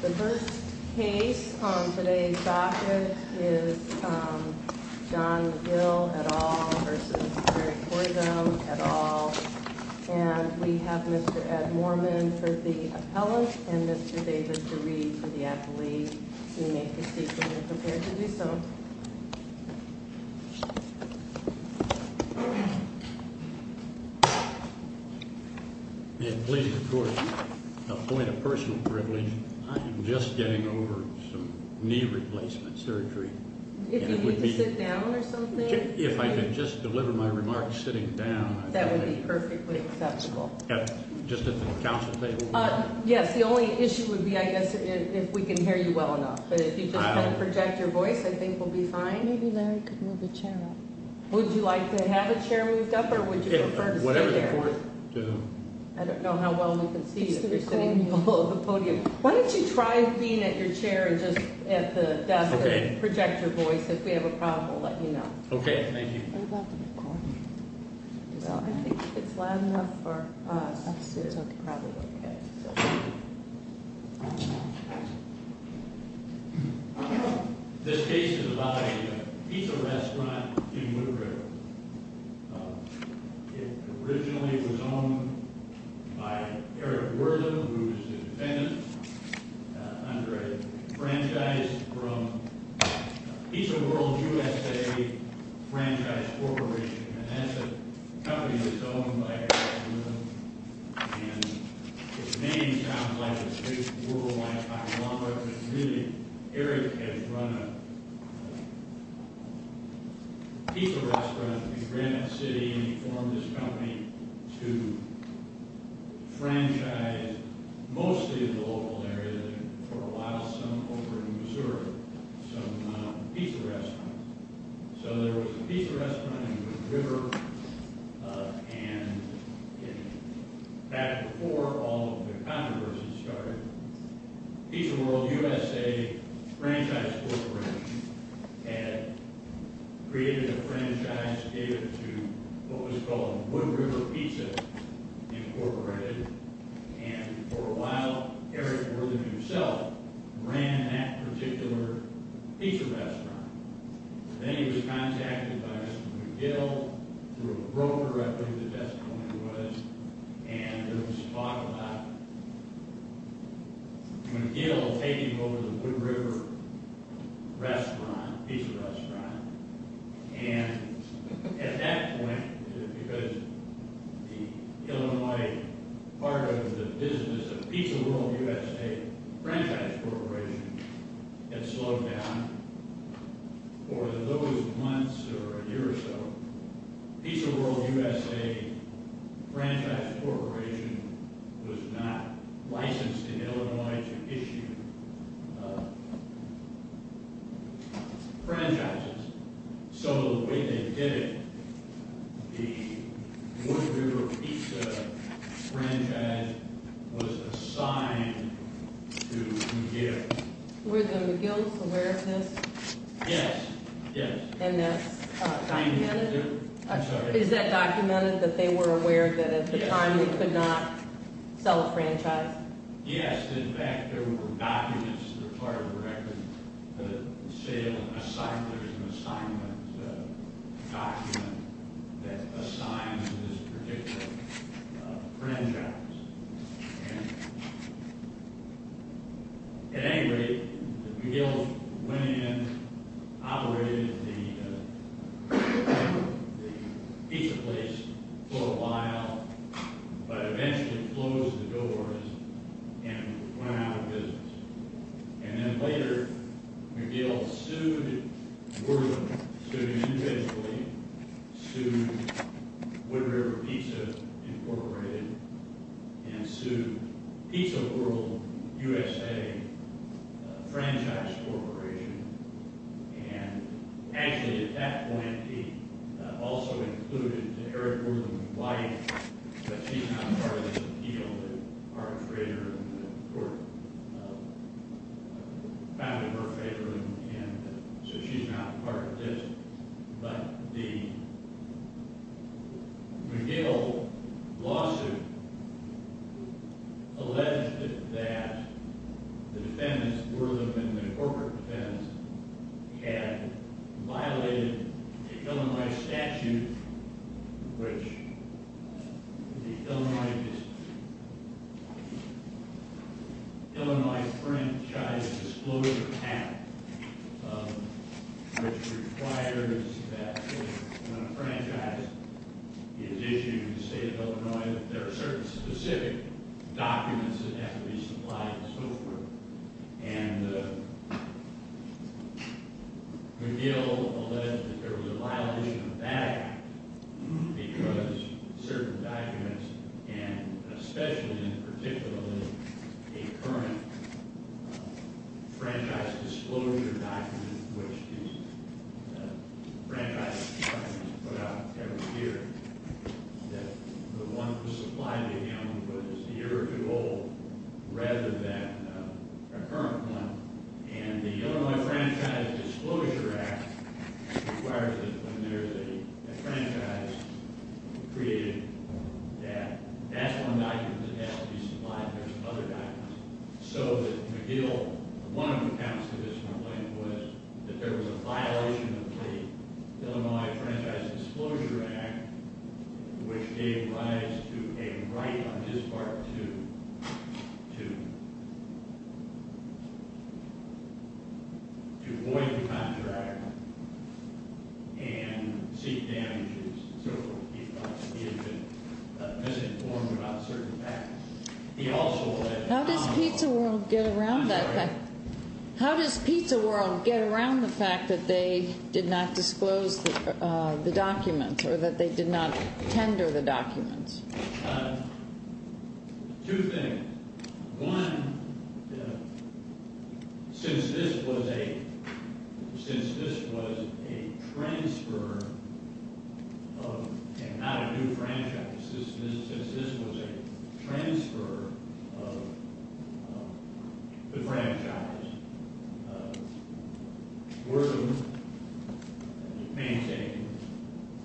The first case on today's docket is John McGill v. Wortham, et al. And we have Mr. Ed Moorman for the appellant and Mr. David DeRee for the appellee. You may proceed when you're prepared to do so. May it please the court, a point of personal privilege, I am just getting over some knee replacement surgery. If you need to sit down or something? If I could just deliver my remarks sitting down. That would be perfectly acceptable. Just at the council table? Yes, the only issue would be, I guess, if we can hear you well enough. But if you just kind of project your voice, I think we'll be fine. Maybe Larry could move the chair up. Would you like to have the chair moved up or would you prefer to stay there? Whatever the court, to whom? I don't know how well we can see you if you're sitting below the podium. Why don't you try being at your chair and just at the desk and project your voice. If we have a problem, we'll let you know. Okay, thank you. I think if it's loud enough for us, it's probably okay. This case is about a pizza restaurant in Woodbridge. It originally was owned by Eric Wortham, who is the defendant, under a franchise from Pizza World USA Franchise Corporation. And that's a company that's owned by Eric Wortham. And his name sounds like it's a big world like Oklahoma. But really, Eric has run a pizza restaurant. He ran that city and he formed this company to franchise mostly the local area and for a while some over in Missouri, some pizza restaurants. So there was a pizza restaurant in the river. And back before all of the controversy started, Pizza World USA Franchise Corporation had created a franchise that gave it to what was called Wood River Pizza Incorporated. And for a while, Eric Wortham himself ran that particular pizza restaurant. Then he was contacted by McGill through a broker, I believe that's the name it was, and there was talk about McGill taking over the Wood River restaurant, pizza restaurant. And at that point, because the Illinois part of the business of Pizza World USA Franchise Corporation had slowed down, for those months or a year or so, Pizza World USA Franchise Corporation was not licensed in Illinois to issue franchises. So the way they did it, the Wood River pizza franchise was assigned to McGill. Were the McGills aware of this? Yes. And that's documented? I'm sorry. Is that documented, that they were aware that at the time they could not sell a franchise? Yes. In fact, there were documents that are part of the record that say there's an assignment document that assigns this particular franchise. And at any rate, McGill went in, operated the pizza place for a while, but eventually closed the doors and went out of business. And then later, McGill sued Wood River, sued them individually, sued Wood River Pizza Incorporated, and sued Pizza World USA Franchise Corporation. And actually, at that point, he also included Eric Wortham's wife, but she's not part of this appeal that Art Frater and the court found in her favor, and so she's not part of this. But the McGill lawsuit alleged that the defendants, Wortham and the corporate defendants, had violated the Illinois statute, which the Illinois Franchise Disclosure Act, which requires that when a franchise is issued in the state of Illinois, there are certain specific documents that have to be supplied and so forth. And McGill alleged that there was a violation of that because certain documents, and especially and particularly a current franchise disclosure document, which is a franchise document that's put out every year, that the one that was supplied to him was a year or two old rather than a current one, and the Illinois Franchise Disclosure Act requires that when there's a franchise created, that that's one document that has to be supplied and there's other documents. So that McGill, one of the accounts to this complaint was that there was a violation of the which gave rise to a right on his part to avoid the contract and seek damages and so forth. He thought that he had been misinformed about certain facts. He also alleged— How does Pizza World get around that? I'm sorry? Tender the documents. Two things. One, since this was a transfer of—and not a new franchise.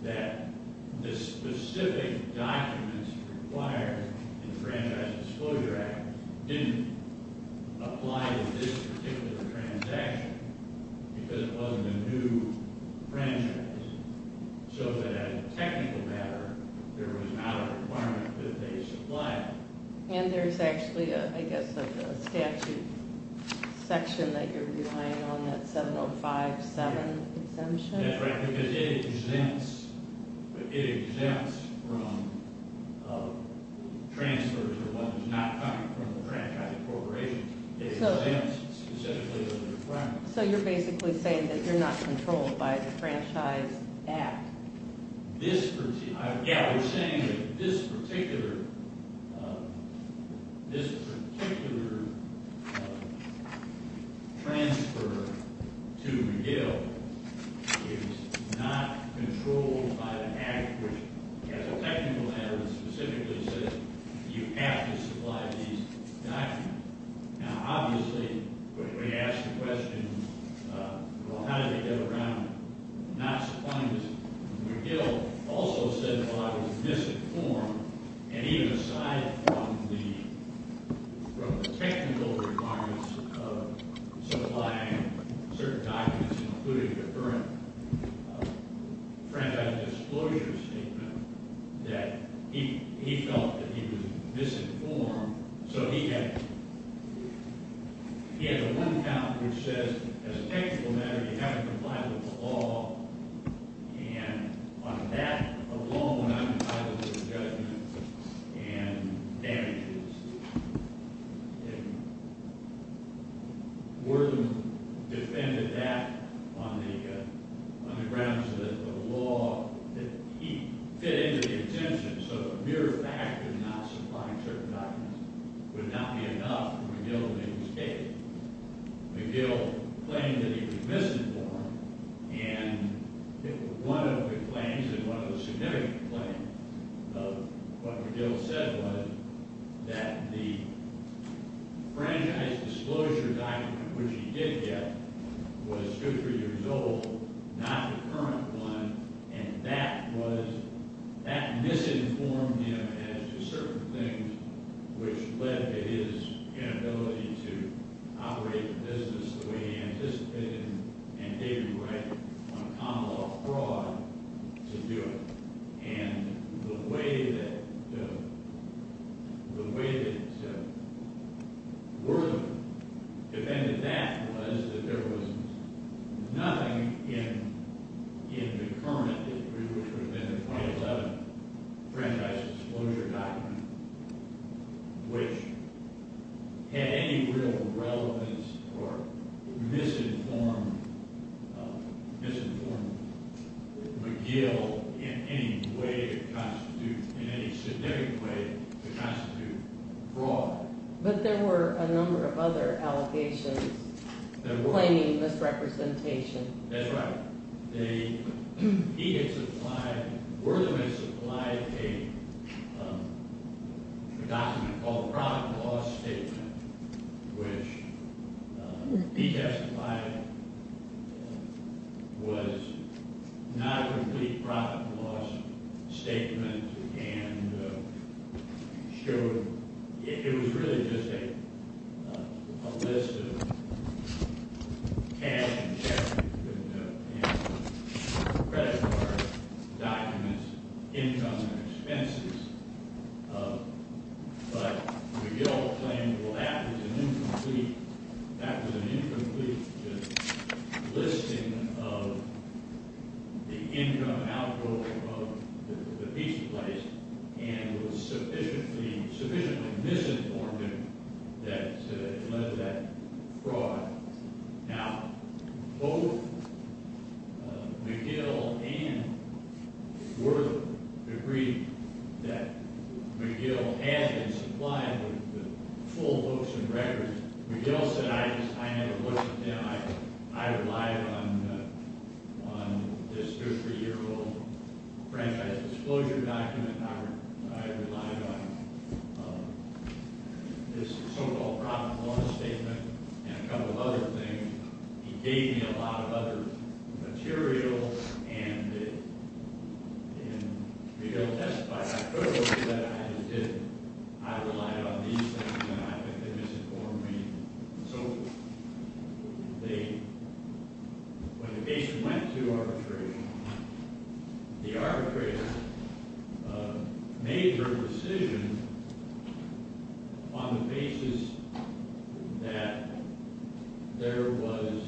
that the specific documents required in the Franchise Disclosure Act didn't apply to this particular transaction because it wasn't a new franchise. So that as a technical matter, there was not a requirement that they supply it. And there's actually, I guess, a statute section that you're relying on, that 7057 exemption? That's right, because it exempts from transfers or what is not coming from a franchise corporation. It exempts specifically from the requirement. So you're basically saying that you're not controlled by the Franchise Act? Yeah, we're saying that this particular transfer to McGill is not controlled by the Act, which as a technical matter specifically says you have to supply these documents. Now, obviously, when we ask the question, well, how did they get around not supplying this? McGill also said, well, I was misinformed. And even aside from the technical requirements of supplying certain documents, including the current franchise disclosure statement, that he felt that he was misinformed. So he has a one count which says, as a technical matter, you have to comply with the law. And on that alone, I'm compliant with the judgment and damages. And Wharton defended that on the grounds that the law that he fit into the exemption, so the mere fact of not supplying certain documents would not be enough for McGill to escape. McGill claimed that he was misinformed, and one of the claims, and one of the significant claims of what McGill said was that the franchise disclosure document, which he did get, was two or three years old, not the current one, and that misinformed him as to certain things which led to his inability to operate the business the way he anticipated and gave him right on common law fraud to do it. And the way that Wharton defended that was that there was nothing in the current, which would have been the 2011 franchise disclosure document, which had any real relevance or misinformed McGill in any significant way to constitute fraud. But there were a number of other allegations claiming misrepresentation. That's right. They – he had supplied – Wharton had supplied a document called the profit and loss statement, which he testified was not a complete profit and loss statement and showed – it was really just a list of cash and credit card documents, income and expenses. But McGill claimed, well, that was an incomplete – that was an incomplete listing of the income, outflow of the pizza place and was sufficiently misinformed that it led to that fraud. Now, both McGill and Wharton agreed that McGill had been supplied with the full books and records. And McGill said, I just – I never looked at them. I relied on this 53-year-old franchise disclosure document. I relied on this so-called profit and loss statement and a couple of other things. He gave me a lot of other material and it – and McGill testified. I just didn't. I relied on these things and I think they misinformed me. So they – when the case went to arbitration, the arbitrator made her decision on the basis that there was –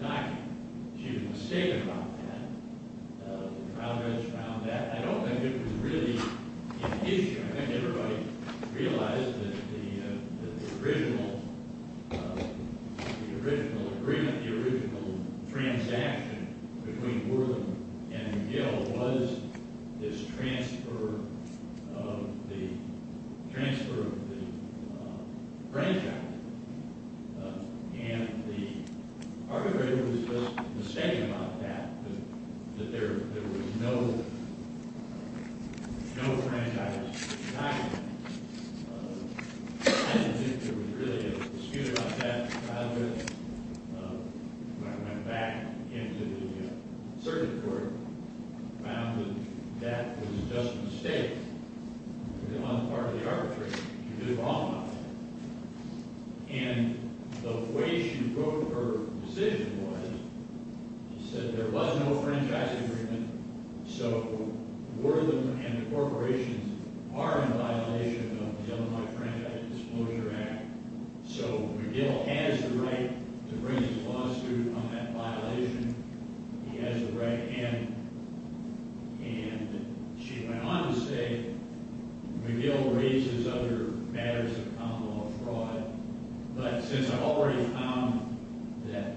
not – she was mistaken about that. The trial judge found that. I don't think it was really an issue. I think everybody realized that the original agreement, the original transaction between Wharton and McGill was this transfer of the – transfer of the franchise. And the arbitrator was just mistaken about that, that there was no franchise document. I don't think there was really a dispute about that trial judge. When I went back into the circuit court, I found that that was just a mistake on the part of the arbitrator to do wrong on that. And the way she wrote her decision was she said there was no franchise agreement, so Wharton and the corporations are in violation of the Illinois Franchise Disclosure Act. So McGill has the right to bring his lawsuit on that violation. He has the right. And she went on to say McGill raises other matters of common law fraud, but since I've already found that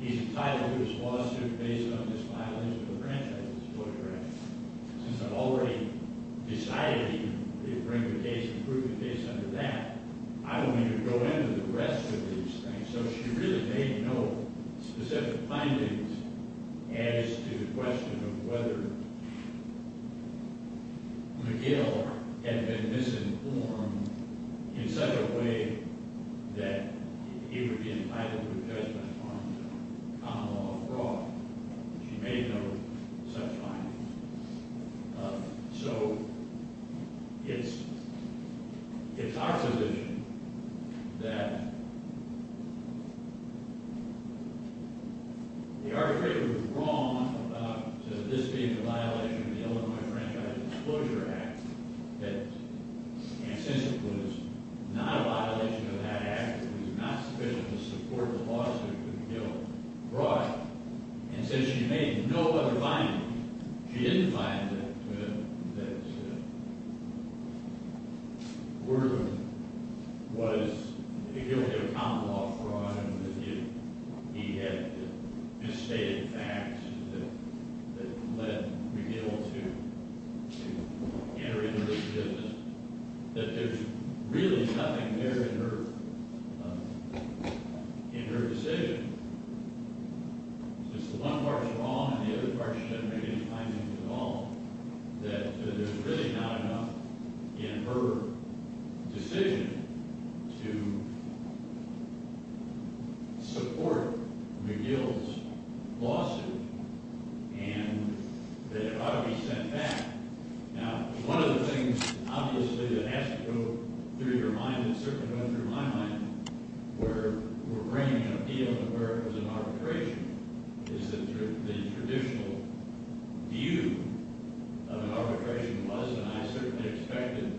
he's entitled to his lawsuit based on this violation of the Franchise Disclosure Act, since I've already decided he can bring the case and prove the case under that, I don't need to go into the rest of these things. So she really made no specific findings as to the question of whether McGill had been misinformed in such a way that he would be entitled to a judgment on common law fraud. She made no such findings. So it's our position that the arbitrator was wrong about this being a violation of the Illinois Franchise Disclosure Act and since it was not a violation of that act, it was not sufficient to support the lawsuit that McGill brought. And since she made no other findings, she didn't find that McGill was guilty of common law fraud and that he had misstated facts that led McGill to enter into this business, that there's really nothing there in her decision. Since one part's wrong and the other part she doesn't make any findings at all, that there's really not enough in her decision to support McGill's lawsuit and that it ought to be sent back. Now, one of the things, obviously, that has to go through your mind and certainly went through my mind, where we're bringing an appeal to where it was an arbitration, is that the traditional view of an arbitration was, and I certainly expected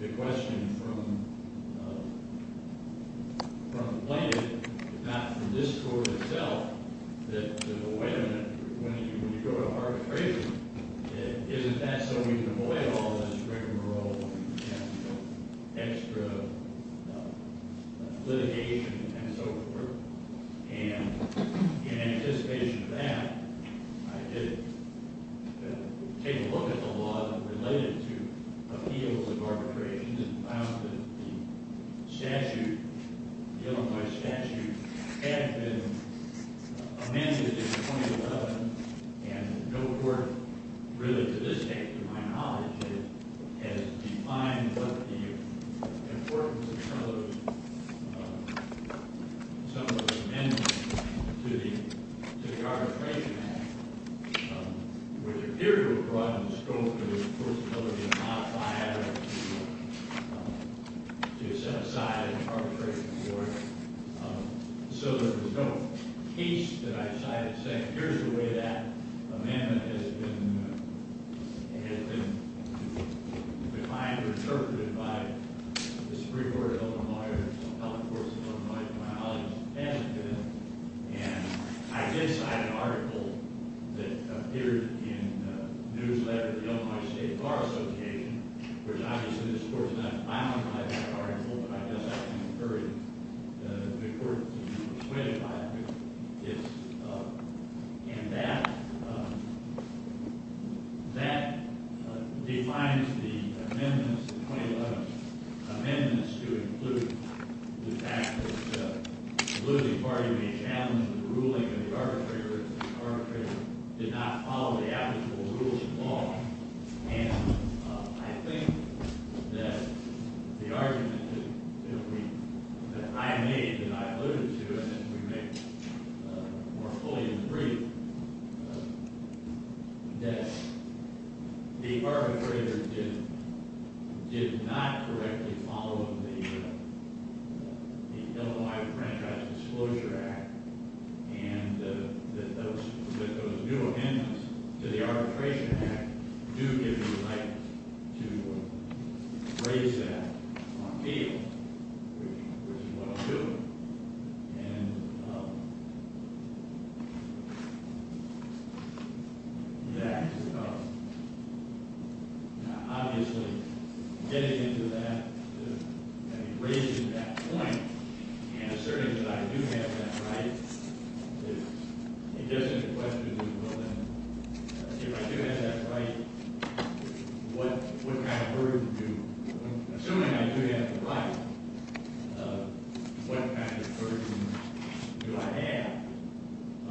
the question from the plaintiff, not from this court itself, that, well, wait a minute, when you go to arbitration, isn't that so we can avoid all this rigmarole and extra litigation and so forth? And in anticipation of that, I did take a look at the law that related to appeals of arbitration and found that the statute, the Illinois statute, had been amended in 2011 and no court really to this day, to my knowledge, has defined what the importance of some of those amendments to the Arbitration Act, which appeared to have brought in the scope of the court's ability to not buy out or to set aside an arbitration court. So there was no case that I decided to say, here's the way that amendment has been defined or interpreted by the Supreme Court of Illinois to my knowledge, hasn't been. And I did cite an article that appeared in a newsletter of the Illinois State Bar Association, which obviously this court did not finalize that article, but I guess I concurred the importance of being persuaded by it. And that defines the amendments, the 2011 amendments, to include the fact that the losing party may challenge the ruling of the arbitrator if the arbitrator did not follow the applicable rules of law. And I think that the argument that I made, that I alluded to, and we may more fully agree, that the arbitrator did not correctly follow the Illinois Franchise Disclosure Act and that those new amendments to the Arbitration Act do give you the right to raise that on appeal, which is what I'm doing. And that, obviously, getting into that, raising that point, and asserting that I do have that right, I guess the question is, well then, if I do have that right, what kind of burden do, assuming I do have the right, what kind of burden do I have?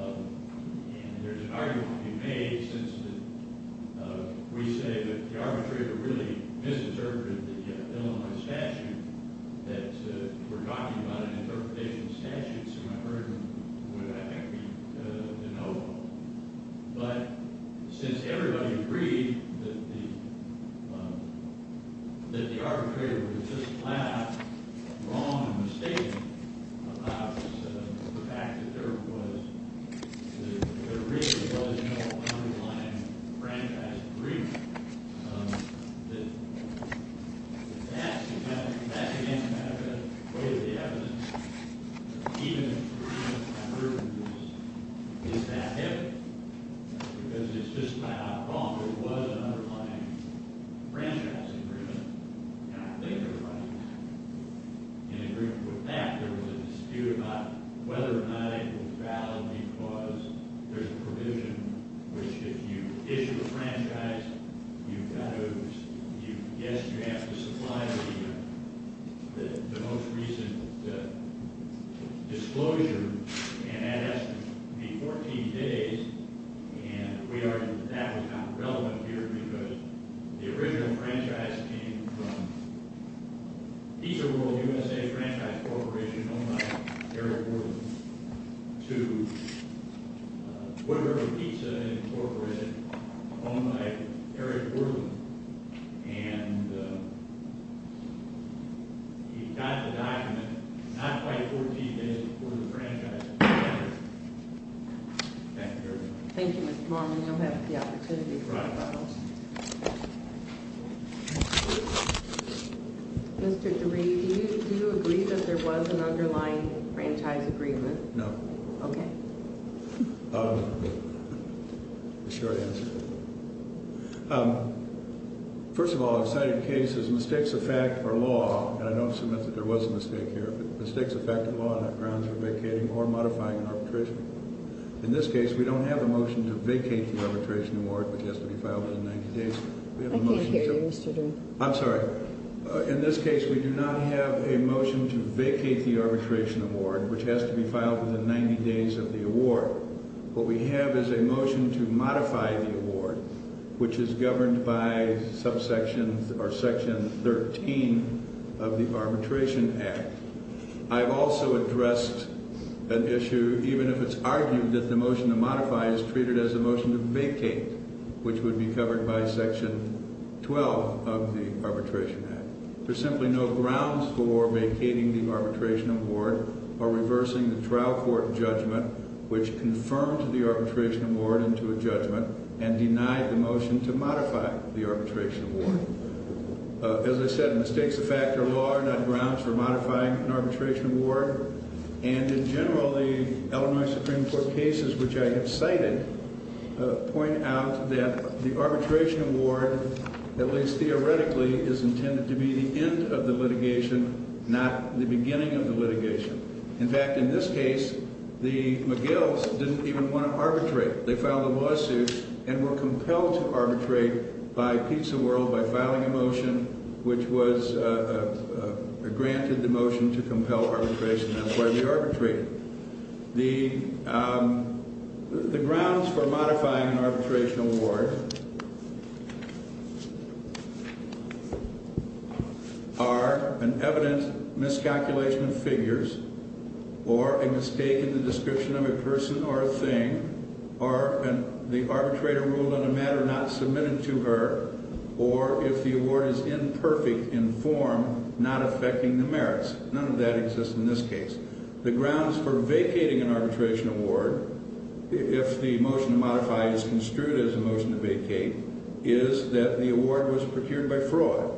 And there's an argument to be made, since we say that the arbitrator really misinterpreted the Illinois statute, and that we're talking about an interpretation of the statute, so my burden would, I think, be denotable. But since everybody agreed that the arbitrator was just loud, wrong, and mistaken about the fact that there really was no underlying franchise agreement, that that's, again, a matter of weight of the evidence. Even if the person who approves this is that heavy, because it's just loud, wrong. There was an underlying franchise agreement, and I think everybody in agreement with that. There was a dispute about whether or not it was valid, because there's a provision, which if you issue a franchise, you've got to, yes, you have to supply the most recent disclosure, and that has to be 14 days. And we argued that that was not relevant here, because the original franchise came from Pizza World USA Franchise Corporation, owned by Eric Worland, to Wood River Pizza Incorporated, owned by Eric Worland. And you've got the document not quite 14 days before the franchise. Thank you very much. Thank you, Mr. Long. We don't have the opportunity for questions. Mr. DeRee, do you agree that there was an underlying franchise agreement? No. Okay. I'm sure I answered it. First of all, I've cited cases, mistakes of fact or law, and I don't submit that there was a mistake here, but mistakes of fact or law on the grounds of vacating or modifying an arbitration award. In this case, we don't have a motion to vacate the arbitration award, which has to be filed within 90 days. I can't hear you, Mr. DeRee. I'm sorry. In this case, we do not have a motion to vacate the arbitration award, which has to be filed within 90 days of the award. What we have is a motion to modify the award, which is governed by subsection or section 13 of the Arbitration Act. I've also addressed an issue, even if it's argued that the motion to modify is treated as a motion to vacate, which would be covered by section 12 of the Arbitration Act. There's simply no grounds for vacating the arbitration award or reversing the trial court judgment, which confirmed the arbitration award into a judgment and denied the motion to modify the arbitration award. As I said, mistakes of fact or law are not grounds for modifying an arbitration award, and in general, the Illinois Supreme Court cases which I have cited point out that the arbitration award, at least theoretically, is intended to be the end of the litigation, not the beginning of the litigation. In fact, in this case, the McGills didn't even want to arbitrate. They filed a lawsuit and were compelled to arbitrate by Pizza World by filing a motion which was granted the motion to compel arbitration, and that's why they arbitrated. The grounds for modifying an arbitration award are an evident miscalculation of figures or a mistake in the description of a person or a thing, or the arbitrator ruled on a matter not submitted to her, or if the award is imperfect in form, not affecting the merits. None of that exists in this case. The grounds for vacating an arbitration award, if the motion to modify is construed as a motion to vacate, is that the award was procured by fraud,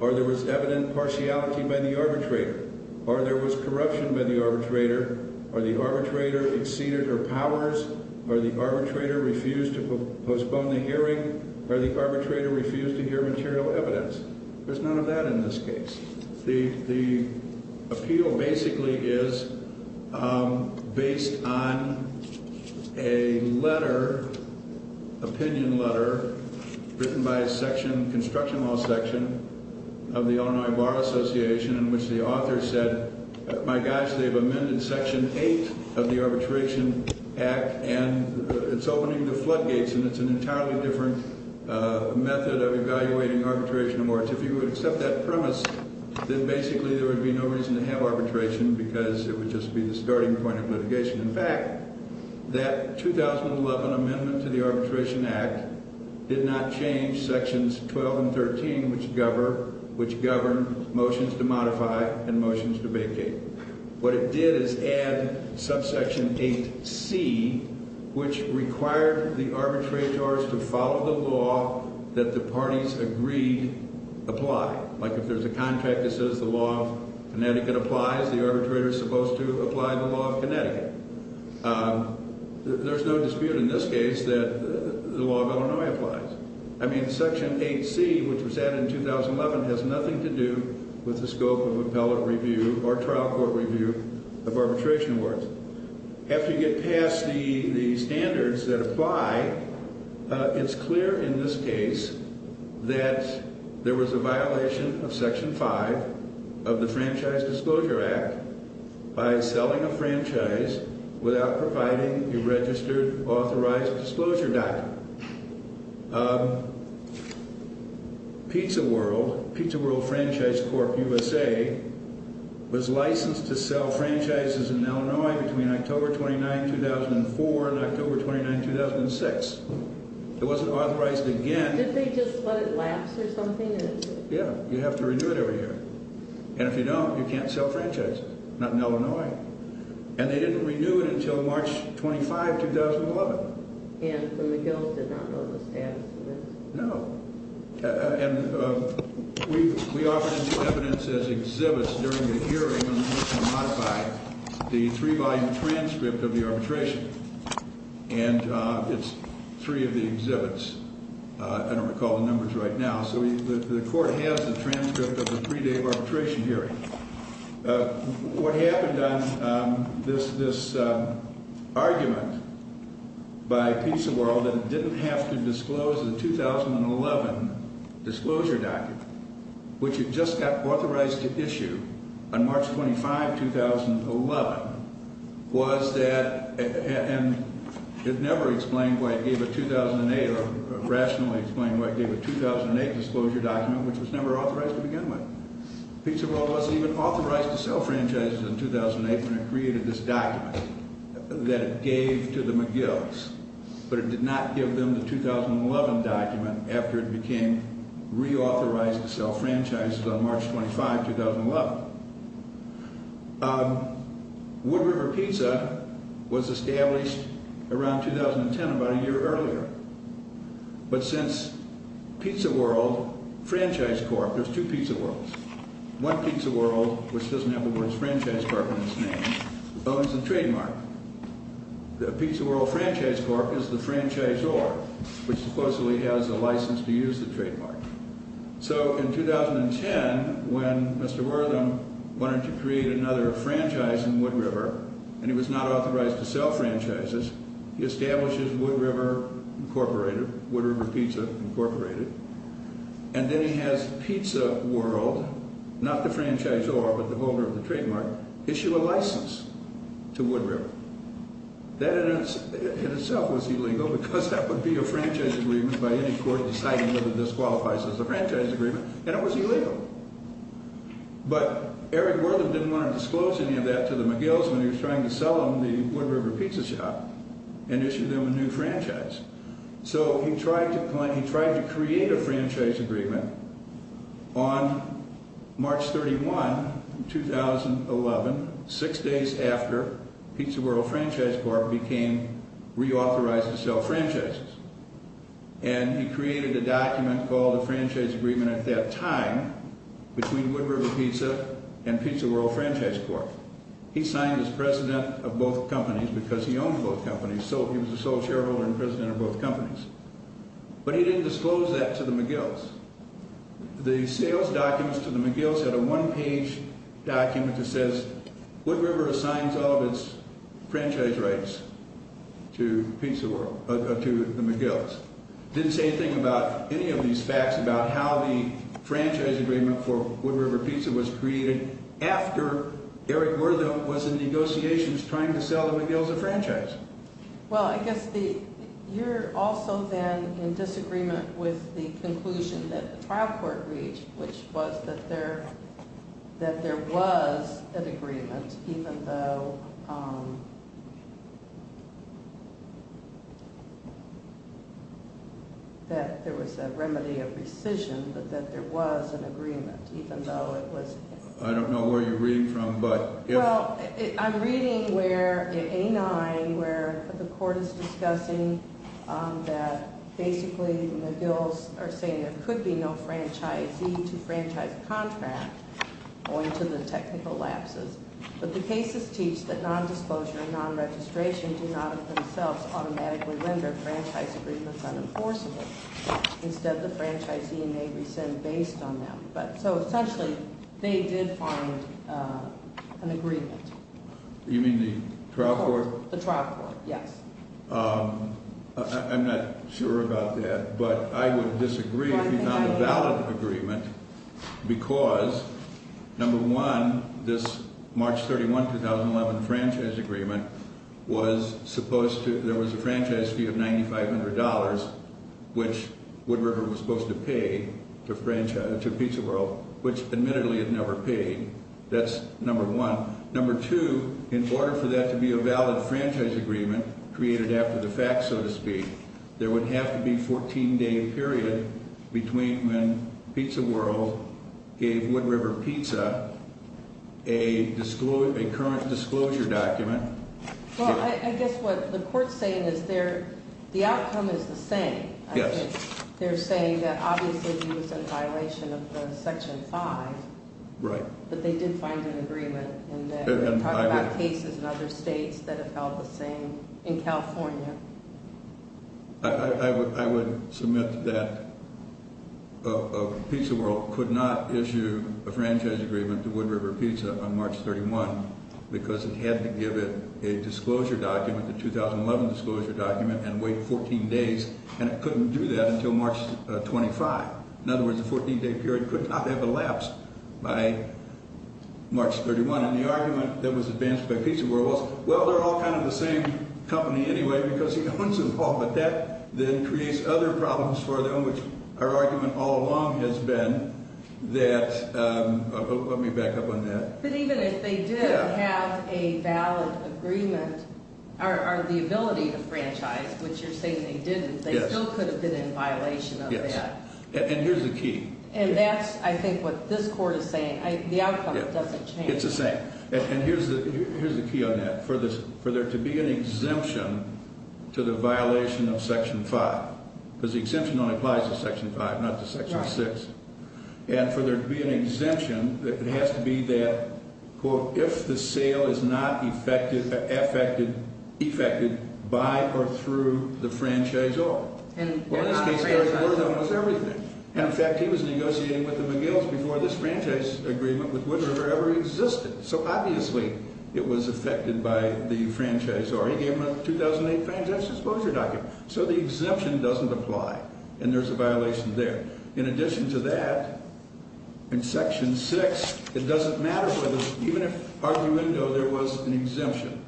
or there was evident partiality by the arbitrator, or there was corruption by the arbitrator, or the arbitrator exceeded her powers, or the arbitrator refused to postpone the hearing, or the arbitrator refused to hear material evidence. There's none of that in this case. The appeal basically is based on a letter, opinion letter, written by a section, construction law section of the Illinois Bar Association in which the author said, my gosh, they've amended Section 8 of the Arbitration Act, and it's opening the floodgates, and it's an entirely different method of evaluating arbitration awards. If you would accept that premise, then basically there would be no reason to have arbitration because it would just be the starting point of litigation. In fact, that 2011 amendment to the Arbitration Act did not change Sections 12 and 13, which govern motions to modify and motions to vacate. What it did is add subsection 8c, which required the arbitrators to follow the law that the parties agreed apply. Like if there's a contract that says the law of Connecticut applies, the arbitrator is supposed to apply the law of Connecticut. There's no dispute in this case that the law of Illinois applies. I mean, Section 8c, which was added in 2011, has nothing to do with the scope of appellate review or trial court review of arbitration awards. After you get past the standards that apply, it's clear in this case that there was a violation of Section 5 of the Franchise Disclosure Act by selling a franchise without providing a registered authorized disclosure document. Pizza World, Pizza World Franchise Corp USA, was licensed to sell franchises in Illinois between October 29, 2004 and October 29, 2006. It wasn't authorized again. Did they just let it lapse or something? Yeah, you have to renew it every year. And if you don't, you can't sell franchises, not in Illinois. And they didn't renew it until March 25, 2011. And the gills did not know the status of it? No. And we offered evidence as exhibits during the hearing when we were trying to modify the three-volume transcript of the arbitration. And it's three of the exhibits. I don't recall the numbers right now. So the court has the transcript of the three-day arbitration hearing. What happened on this argument by Pizza World that it didn't have to disclose the 2011 disclosure document, which it just got authorized to issue on March 25, 2011, was that it never explained why it gave a 2008 or rationally explained why it gave a 2008 disclosure document, which was never authorized to begin with. Pizza World wasn't even authorized to sell franchises in 2008 when it created this document that it gave to the McGills. But it did not give them the 2011 document after it became reauthorized to sell franchises on March 25, 2011. Wood River Pizza was established around 2010, about a year earlier. But since Pizza World Franchise Corp. There's two Pizza Worlds. One Pizza World, which doesn't have the words Franchise Corp. in its name, owns the trademark. The Pizza World Franchise Corp. is the franchisor, which supposedly has the license to use the trademark. So in 2010, when Mr. Wortham wanted to create another franchise in Wood River, and he was not authorized to sell franchises, he establishes Wood River Incorporated, Wood River Pizza Incorporated. And then he has Pizza World, not the franchisor, but the holder of the trademark, issue a license to Wood River. That in itself was illegal because that would be a franchise agreement by any court deciding whether this qualifies as a franchise agreement, and it was illegal. But Eric Wortham didn't want to disclose any of that to the McGill's when he was trying to sell them the Wood River Pizza Shop and issue them a new franchise. So he tried to create a franchise agreement on March 31, 2011, six days after Pizza World Franchise Corp. became reauthorized to sell franchises. And he created a document called the Franchise Agreement at that time between Wood River Pizza and Pizza World Franchise Corp. He signed as president of both companies because he owned both companies, so he was the sole shareholder and president of both companies. But he didn't disclose that to the McGill's. The sales documents to the McGill's had a one-page document that says Wood River assigns all of its franchise rights to the McGill's. It didn't say anything about any of these facts about how the franchise agreement for Wood River Pizza was created after Eric Wortham was in negotiations trying to sell the McGill's a franchise. Well, I guess you're also then in disagreement with the conclusion that the trial court reached, which was that there was an agreement, even though there was a remedy of rescission, but that there was an agreement, even though it was… I don't know where you're reading from, but… Well, I'm reading where, in A9, where the court is discussing that basically McGill's are saying there could be no franchisee to franchise contract owing to the technical lapses. But the cases teach that nondisclosure and nonregistration do not themselves automatically render franchise agreements unenforceable. Instead, the franchisee may rescind based on them. So, essentially, they did find an agreement. You mean the trial court? The trial court, yes. I'm not sure about that, but I would disagree if you found a valid agreement because, number one, this March 31, 2011, franchise agreement was supposed to… There was a franchise fee of $9,500, which Wood River was supposed to pay to Pizza World, which admittedly it never paid. That's number one. Number two, in order for that to be a valid franchise agreement created after the fact, so to speak, there would have to be a 14-day period between when Pizza World gave Wood River Pizza a current disclosure document. Well, I guess what the court's saying is the outcome is the same. Yes. They're saying that obviously he was in violation of Section 5. Right. But they did find an agreement. And they're talking about cases in other states that have held the same, in California. I would submit that Pizza World could not issue a franchise agreement to Wood River Pizza on March 31 because it had to give it a disclosure document, the 2011 disclosure document, and wait 14 days. And it couldn't do that until March 25. In other words, the 14-day period could not have elapsed by March 31. And the argument that was advanced by Pizza World was, well, they're all kind of the same company anyway because he owns them all. But that then creates other problems for them, which our argument all along has been that – let me back up on that. But even if they did have a valid agreement or the ability to franchise, which you're saying they didn't, they still could have been in violation of that. Yes. And here's the key. And that's, I think, what this court is saying. The outcome doesn't change. It's the same. And here's the key on that. For there to be an exemption to the violation of Section 5, because the exemption only applies to Section 5, not to Section 6. Right. And for there to be an exemption, it has to be that, quote, if the sale is not effected by or through the franchise owner. And they're not a franchise owner. So obviously it was effected by the franchise owner. He gave them a 2008 franchise disclosure document. So the exemption doesn't apply. And there's a violation there. In addition to that, in Section 6, it doesn't matter whether – even if arguendo there was an exemption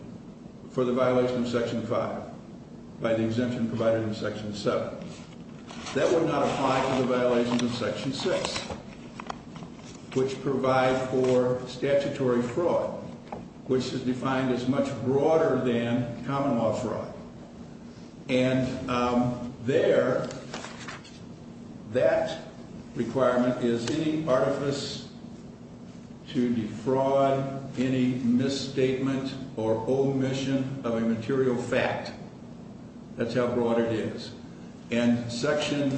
for the violation of Section 5 by the exemption provided in Section 7. That would not apply to the violations in Section 6, which provide for statutory fraud, which is defined as much broader than common law fraud. And there, that requirement is any artifice to defraud any misstatement or omission of a material fact. That's how broad it is. And Section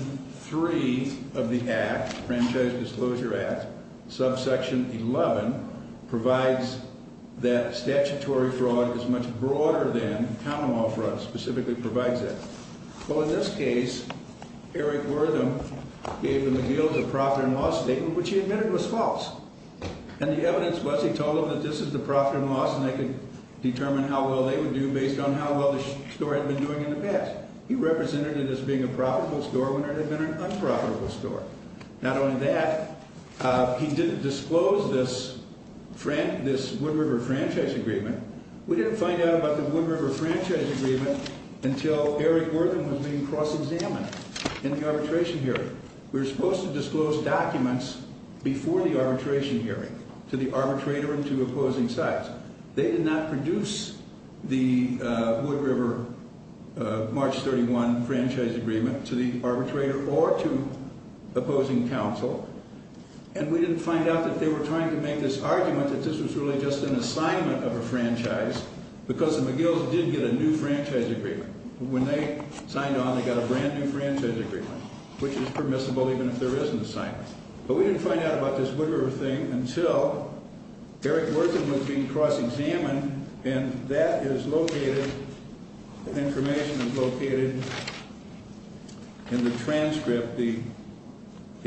3 of the Act, Franchise Disclosure Act, subsection 11, provides that statutory fraud is much broader than common law fraud specifically provides that. Well, in this case, Eric Wortham gave the McGill the profit and loss statement, which he admitted was false. And the evidence was he told them that this is the profit and loss, and they could determine how well they would do based on how well the store had been doing in the past. He represented it as being a profitable store when it had been an unprofitable store. Not only that, he didn't disclose this Wood River Franchise Agreement. We didn't find out about the Wood River Franchise Agreement until Eric Wortham was being cross-examined in the arbitration hearing. We were supposed to disclose documents before the arbitration hearing to the arbitrator and to opposing sides. They did not produce the Wood River March 31 Franchise Agreement to the arbitrator or to opposing counsel. And we didn't find out that they were trying to make this argument that this was really just an assignment of a franchise because the McGills did get a new franchise agreement. When they signed on, they got a brand-new franchise agreement, which is permissible even if there isn't an assignment. But we didn't find out about this Wood River thing until Eric Wortham was being cross-examined, and that information is located in the transcript, the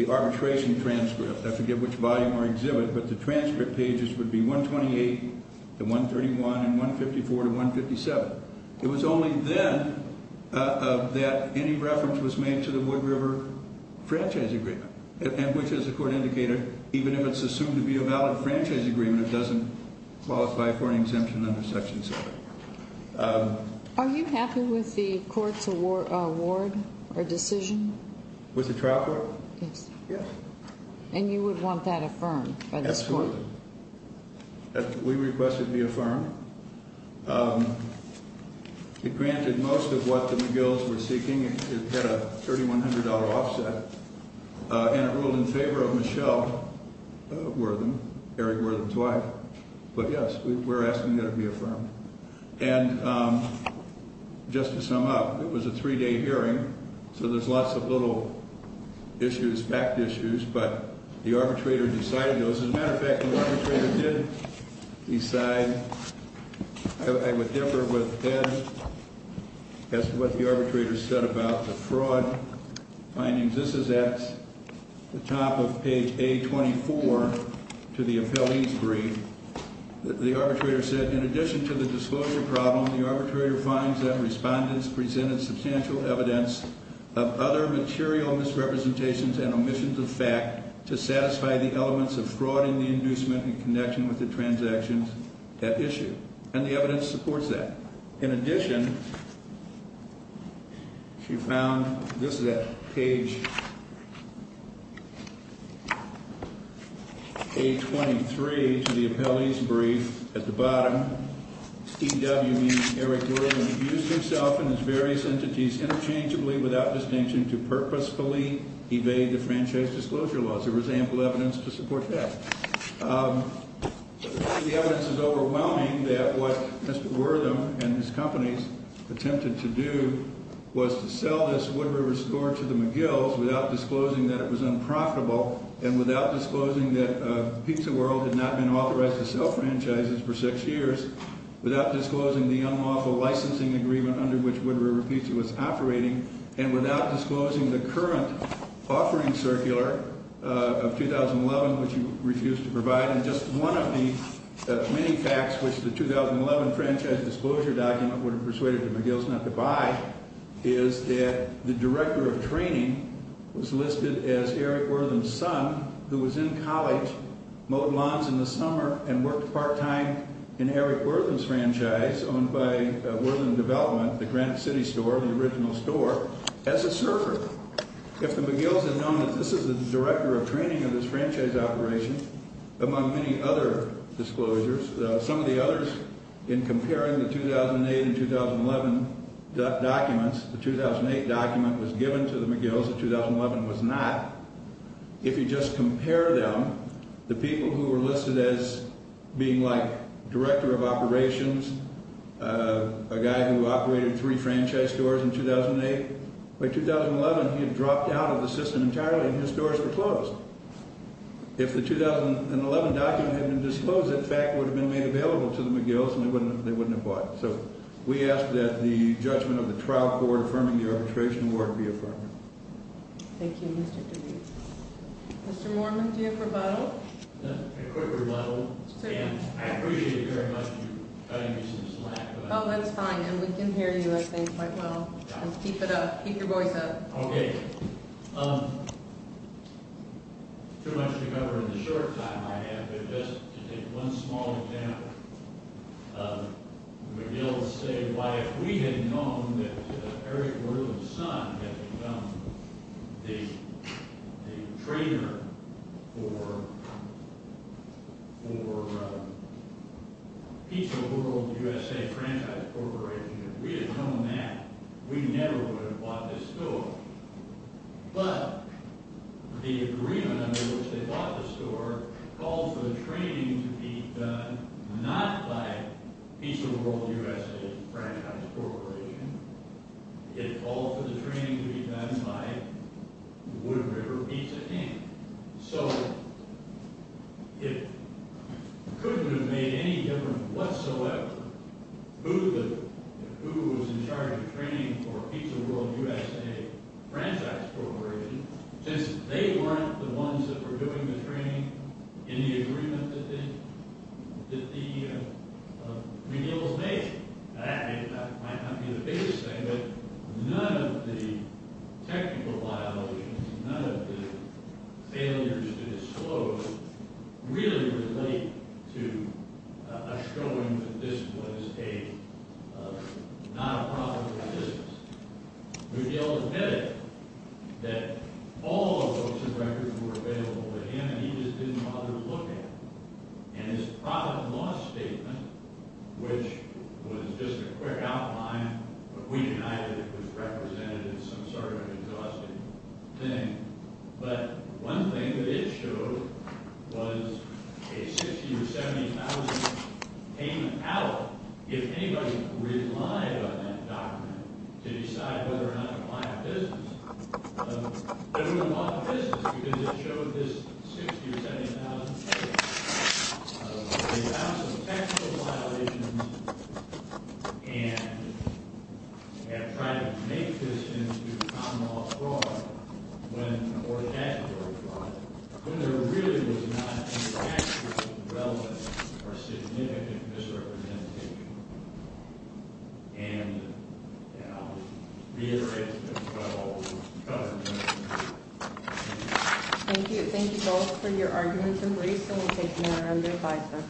arbitration transcript. I forget which volume or exhibit, but the transcript pages would be 128 to 131 and 154 to 157. It was only then that any reference was made to the Wood River Franchise Agreement, and which, as the Court indicated, even if it's assumed to be a valid franchise agreement, it doesn't qualify for an exemption under Section 7. Are you happy with the Court's award or decision? With the trial court? Yes. And you would want that affirmed by this Court? We request it be affirmed. It granted most of what the McGills were seeking. It had a $3,100 offset, and it ruled in favor of Michelle Wortham, Eric Wortham's wife. But, yes, we're asking that it be affirmed. And just to sum up, it was a three-day hearing, so there's lots of little issues, fact issues, but the arbitrator decided those. As a matter of fact, the arbitrator did decide. I would differ with Ed as to what the arbitrator said about the fraud findings. This is at the top of page A24 to the appellee's brief. The arbitrator said, in addition to the disclosure problem, the arbitrator finds that respondents presented substantial evidence of other material misrepresentations and omissions of fact to satisfy the elements of fraud in the inducement in connection with the transactions at issue. And the evidence supports that. In addition, she found, this is at page A23 to the appellee's brief, at the bottom, E.W., meaning Eric Wortham, used himself and his various entities interchangeably, without distinction, to purposefully evade the franchise disclosure laws. There was ample evidence to support that. The evidence is overwhelming that what Mr. Wortham and his companies attempted to do was to sell this Wood River store to the McGills without disclosing that it was unprofitable and without disclosing that Pizza World had not been authorized to sell franchises for six years, without disclosing the unlawful licensing agreement under which Wood River Pizza was operating, and without disclosing the current offering circular of 2011, which he refused to provide. And just one of the many facts which the 2011 franchise disclosure document would have persuaded the McGills not to buy is that the director of training was listed as Eric Wortham's son, who was in college, mowed lawns in the summer, and worked part-time in Eric Wortham's franchise, owned by Wortham Development, the Granite City store, the original store, as a surfer. If the McGills had known that this is the director of training of this franchise operation, among many other disclosures, some of the others in comparing the 2008 and 2011 documents, the 2008 document was given to the McGills, the 2011 was not. If you just compare them, the people who were listed as being like director of operations, a guy who operated three franchise stores in 2008, by 2011 he had dropped out of the system entirely and his stores were closed. If the 2011 document had been disclosed, that fact would have been made available to the McGills, and they wouldn't have bought it. So we ask that the judgment of the trial court affirming the arbitration award be affirmed. Thank you, Mr. Dewey. Mr. Mormon, do you have a rebuttal? A quick rebuttal, and I appreciate very much you cutting me some slack. Oh, that's fine. And we can hear you, I think, quite well. Keep it up. Keep your voice up. Okay. Too much to cover in the short time I have, but just to take one small example. The McGills say, why, if we had known that Eric Wardle's son had become the trainer for Pizza World USA Franchise Corporation, if we had known that, we never would have bought this store. But the agreement under which they bought the store called for the training to be done not by Pizza World USA Franchise Corporation, it called for the training to be done by Wood River Pizza King. So it couldn't have made any difference whatsoever who was in charge of training for Pizza World USA Franchise Corporation, since they weren't the ones that were doing the training in the agreement that the McGills made. That might not be the biggest thing, but none of the technical violations, none of the failures to disclose really relate to us showing that this was not a profitable business. McGill admitted that all of those records were available to him, and he just didn't bother to look at them. And his profit and loss statement, which was just a quick outline, but we denied that it was represented as some sort of exhaustive thing. But one thing that it showed was a $60,000 or $70,000 payment out, if anybody relied on that document to decide whether or not to buy a business. Everyone bought the business because it showed this $60,000 or $70,000 payment. They found some technical violations and have tried to make this into common law fraud, or statutory fraud, when there really was not any actual relevance or significant misrepresentation. And I'll reiterate what all the government did. Thank you. Thank you both for your arguments and briefs, and we'll take them around the advisory.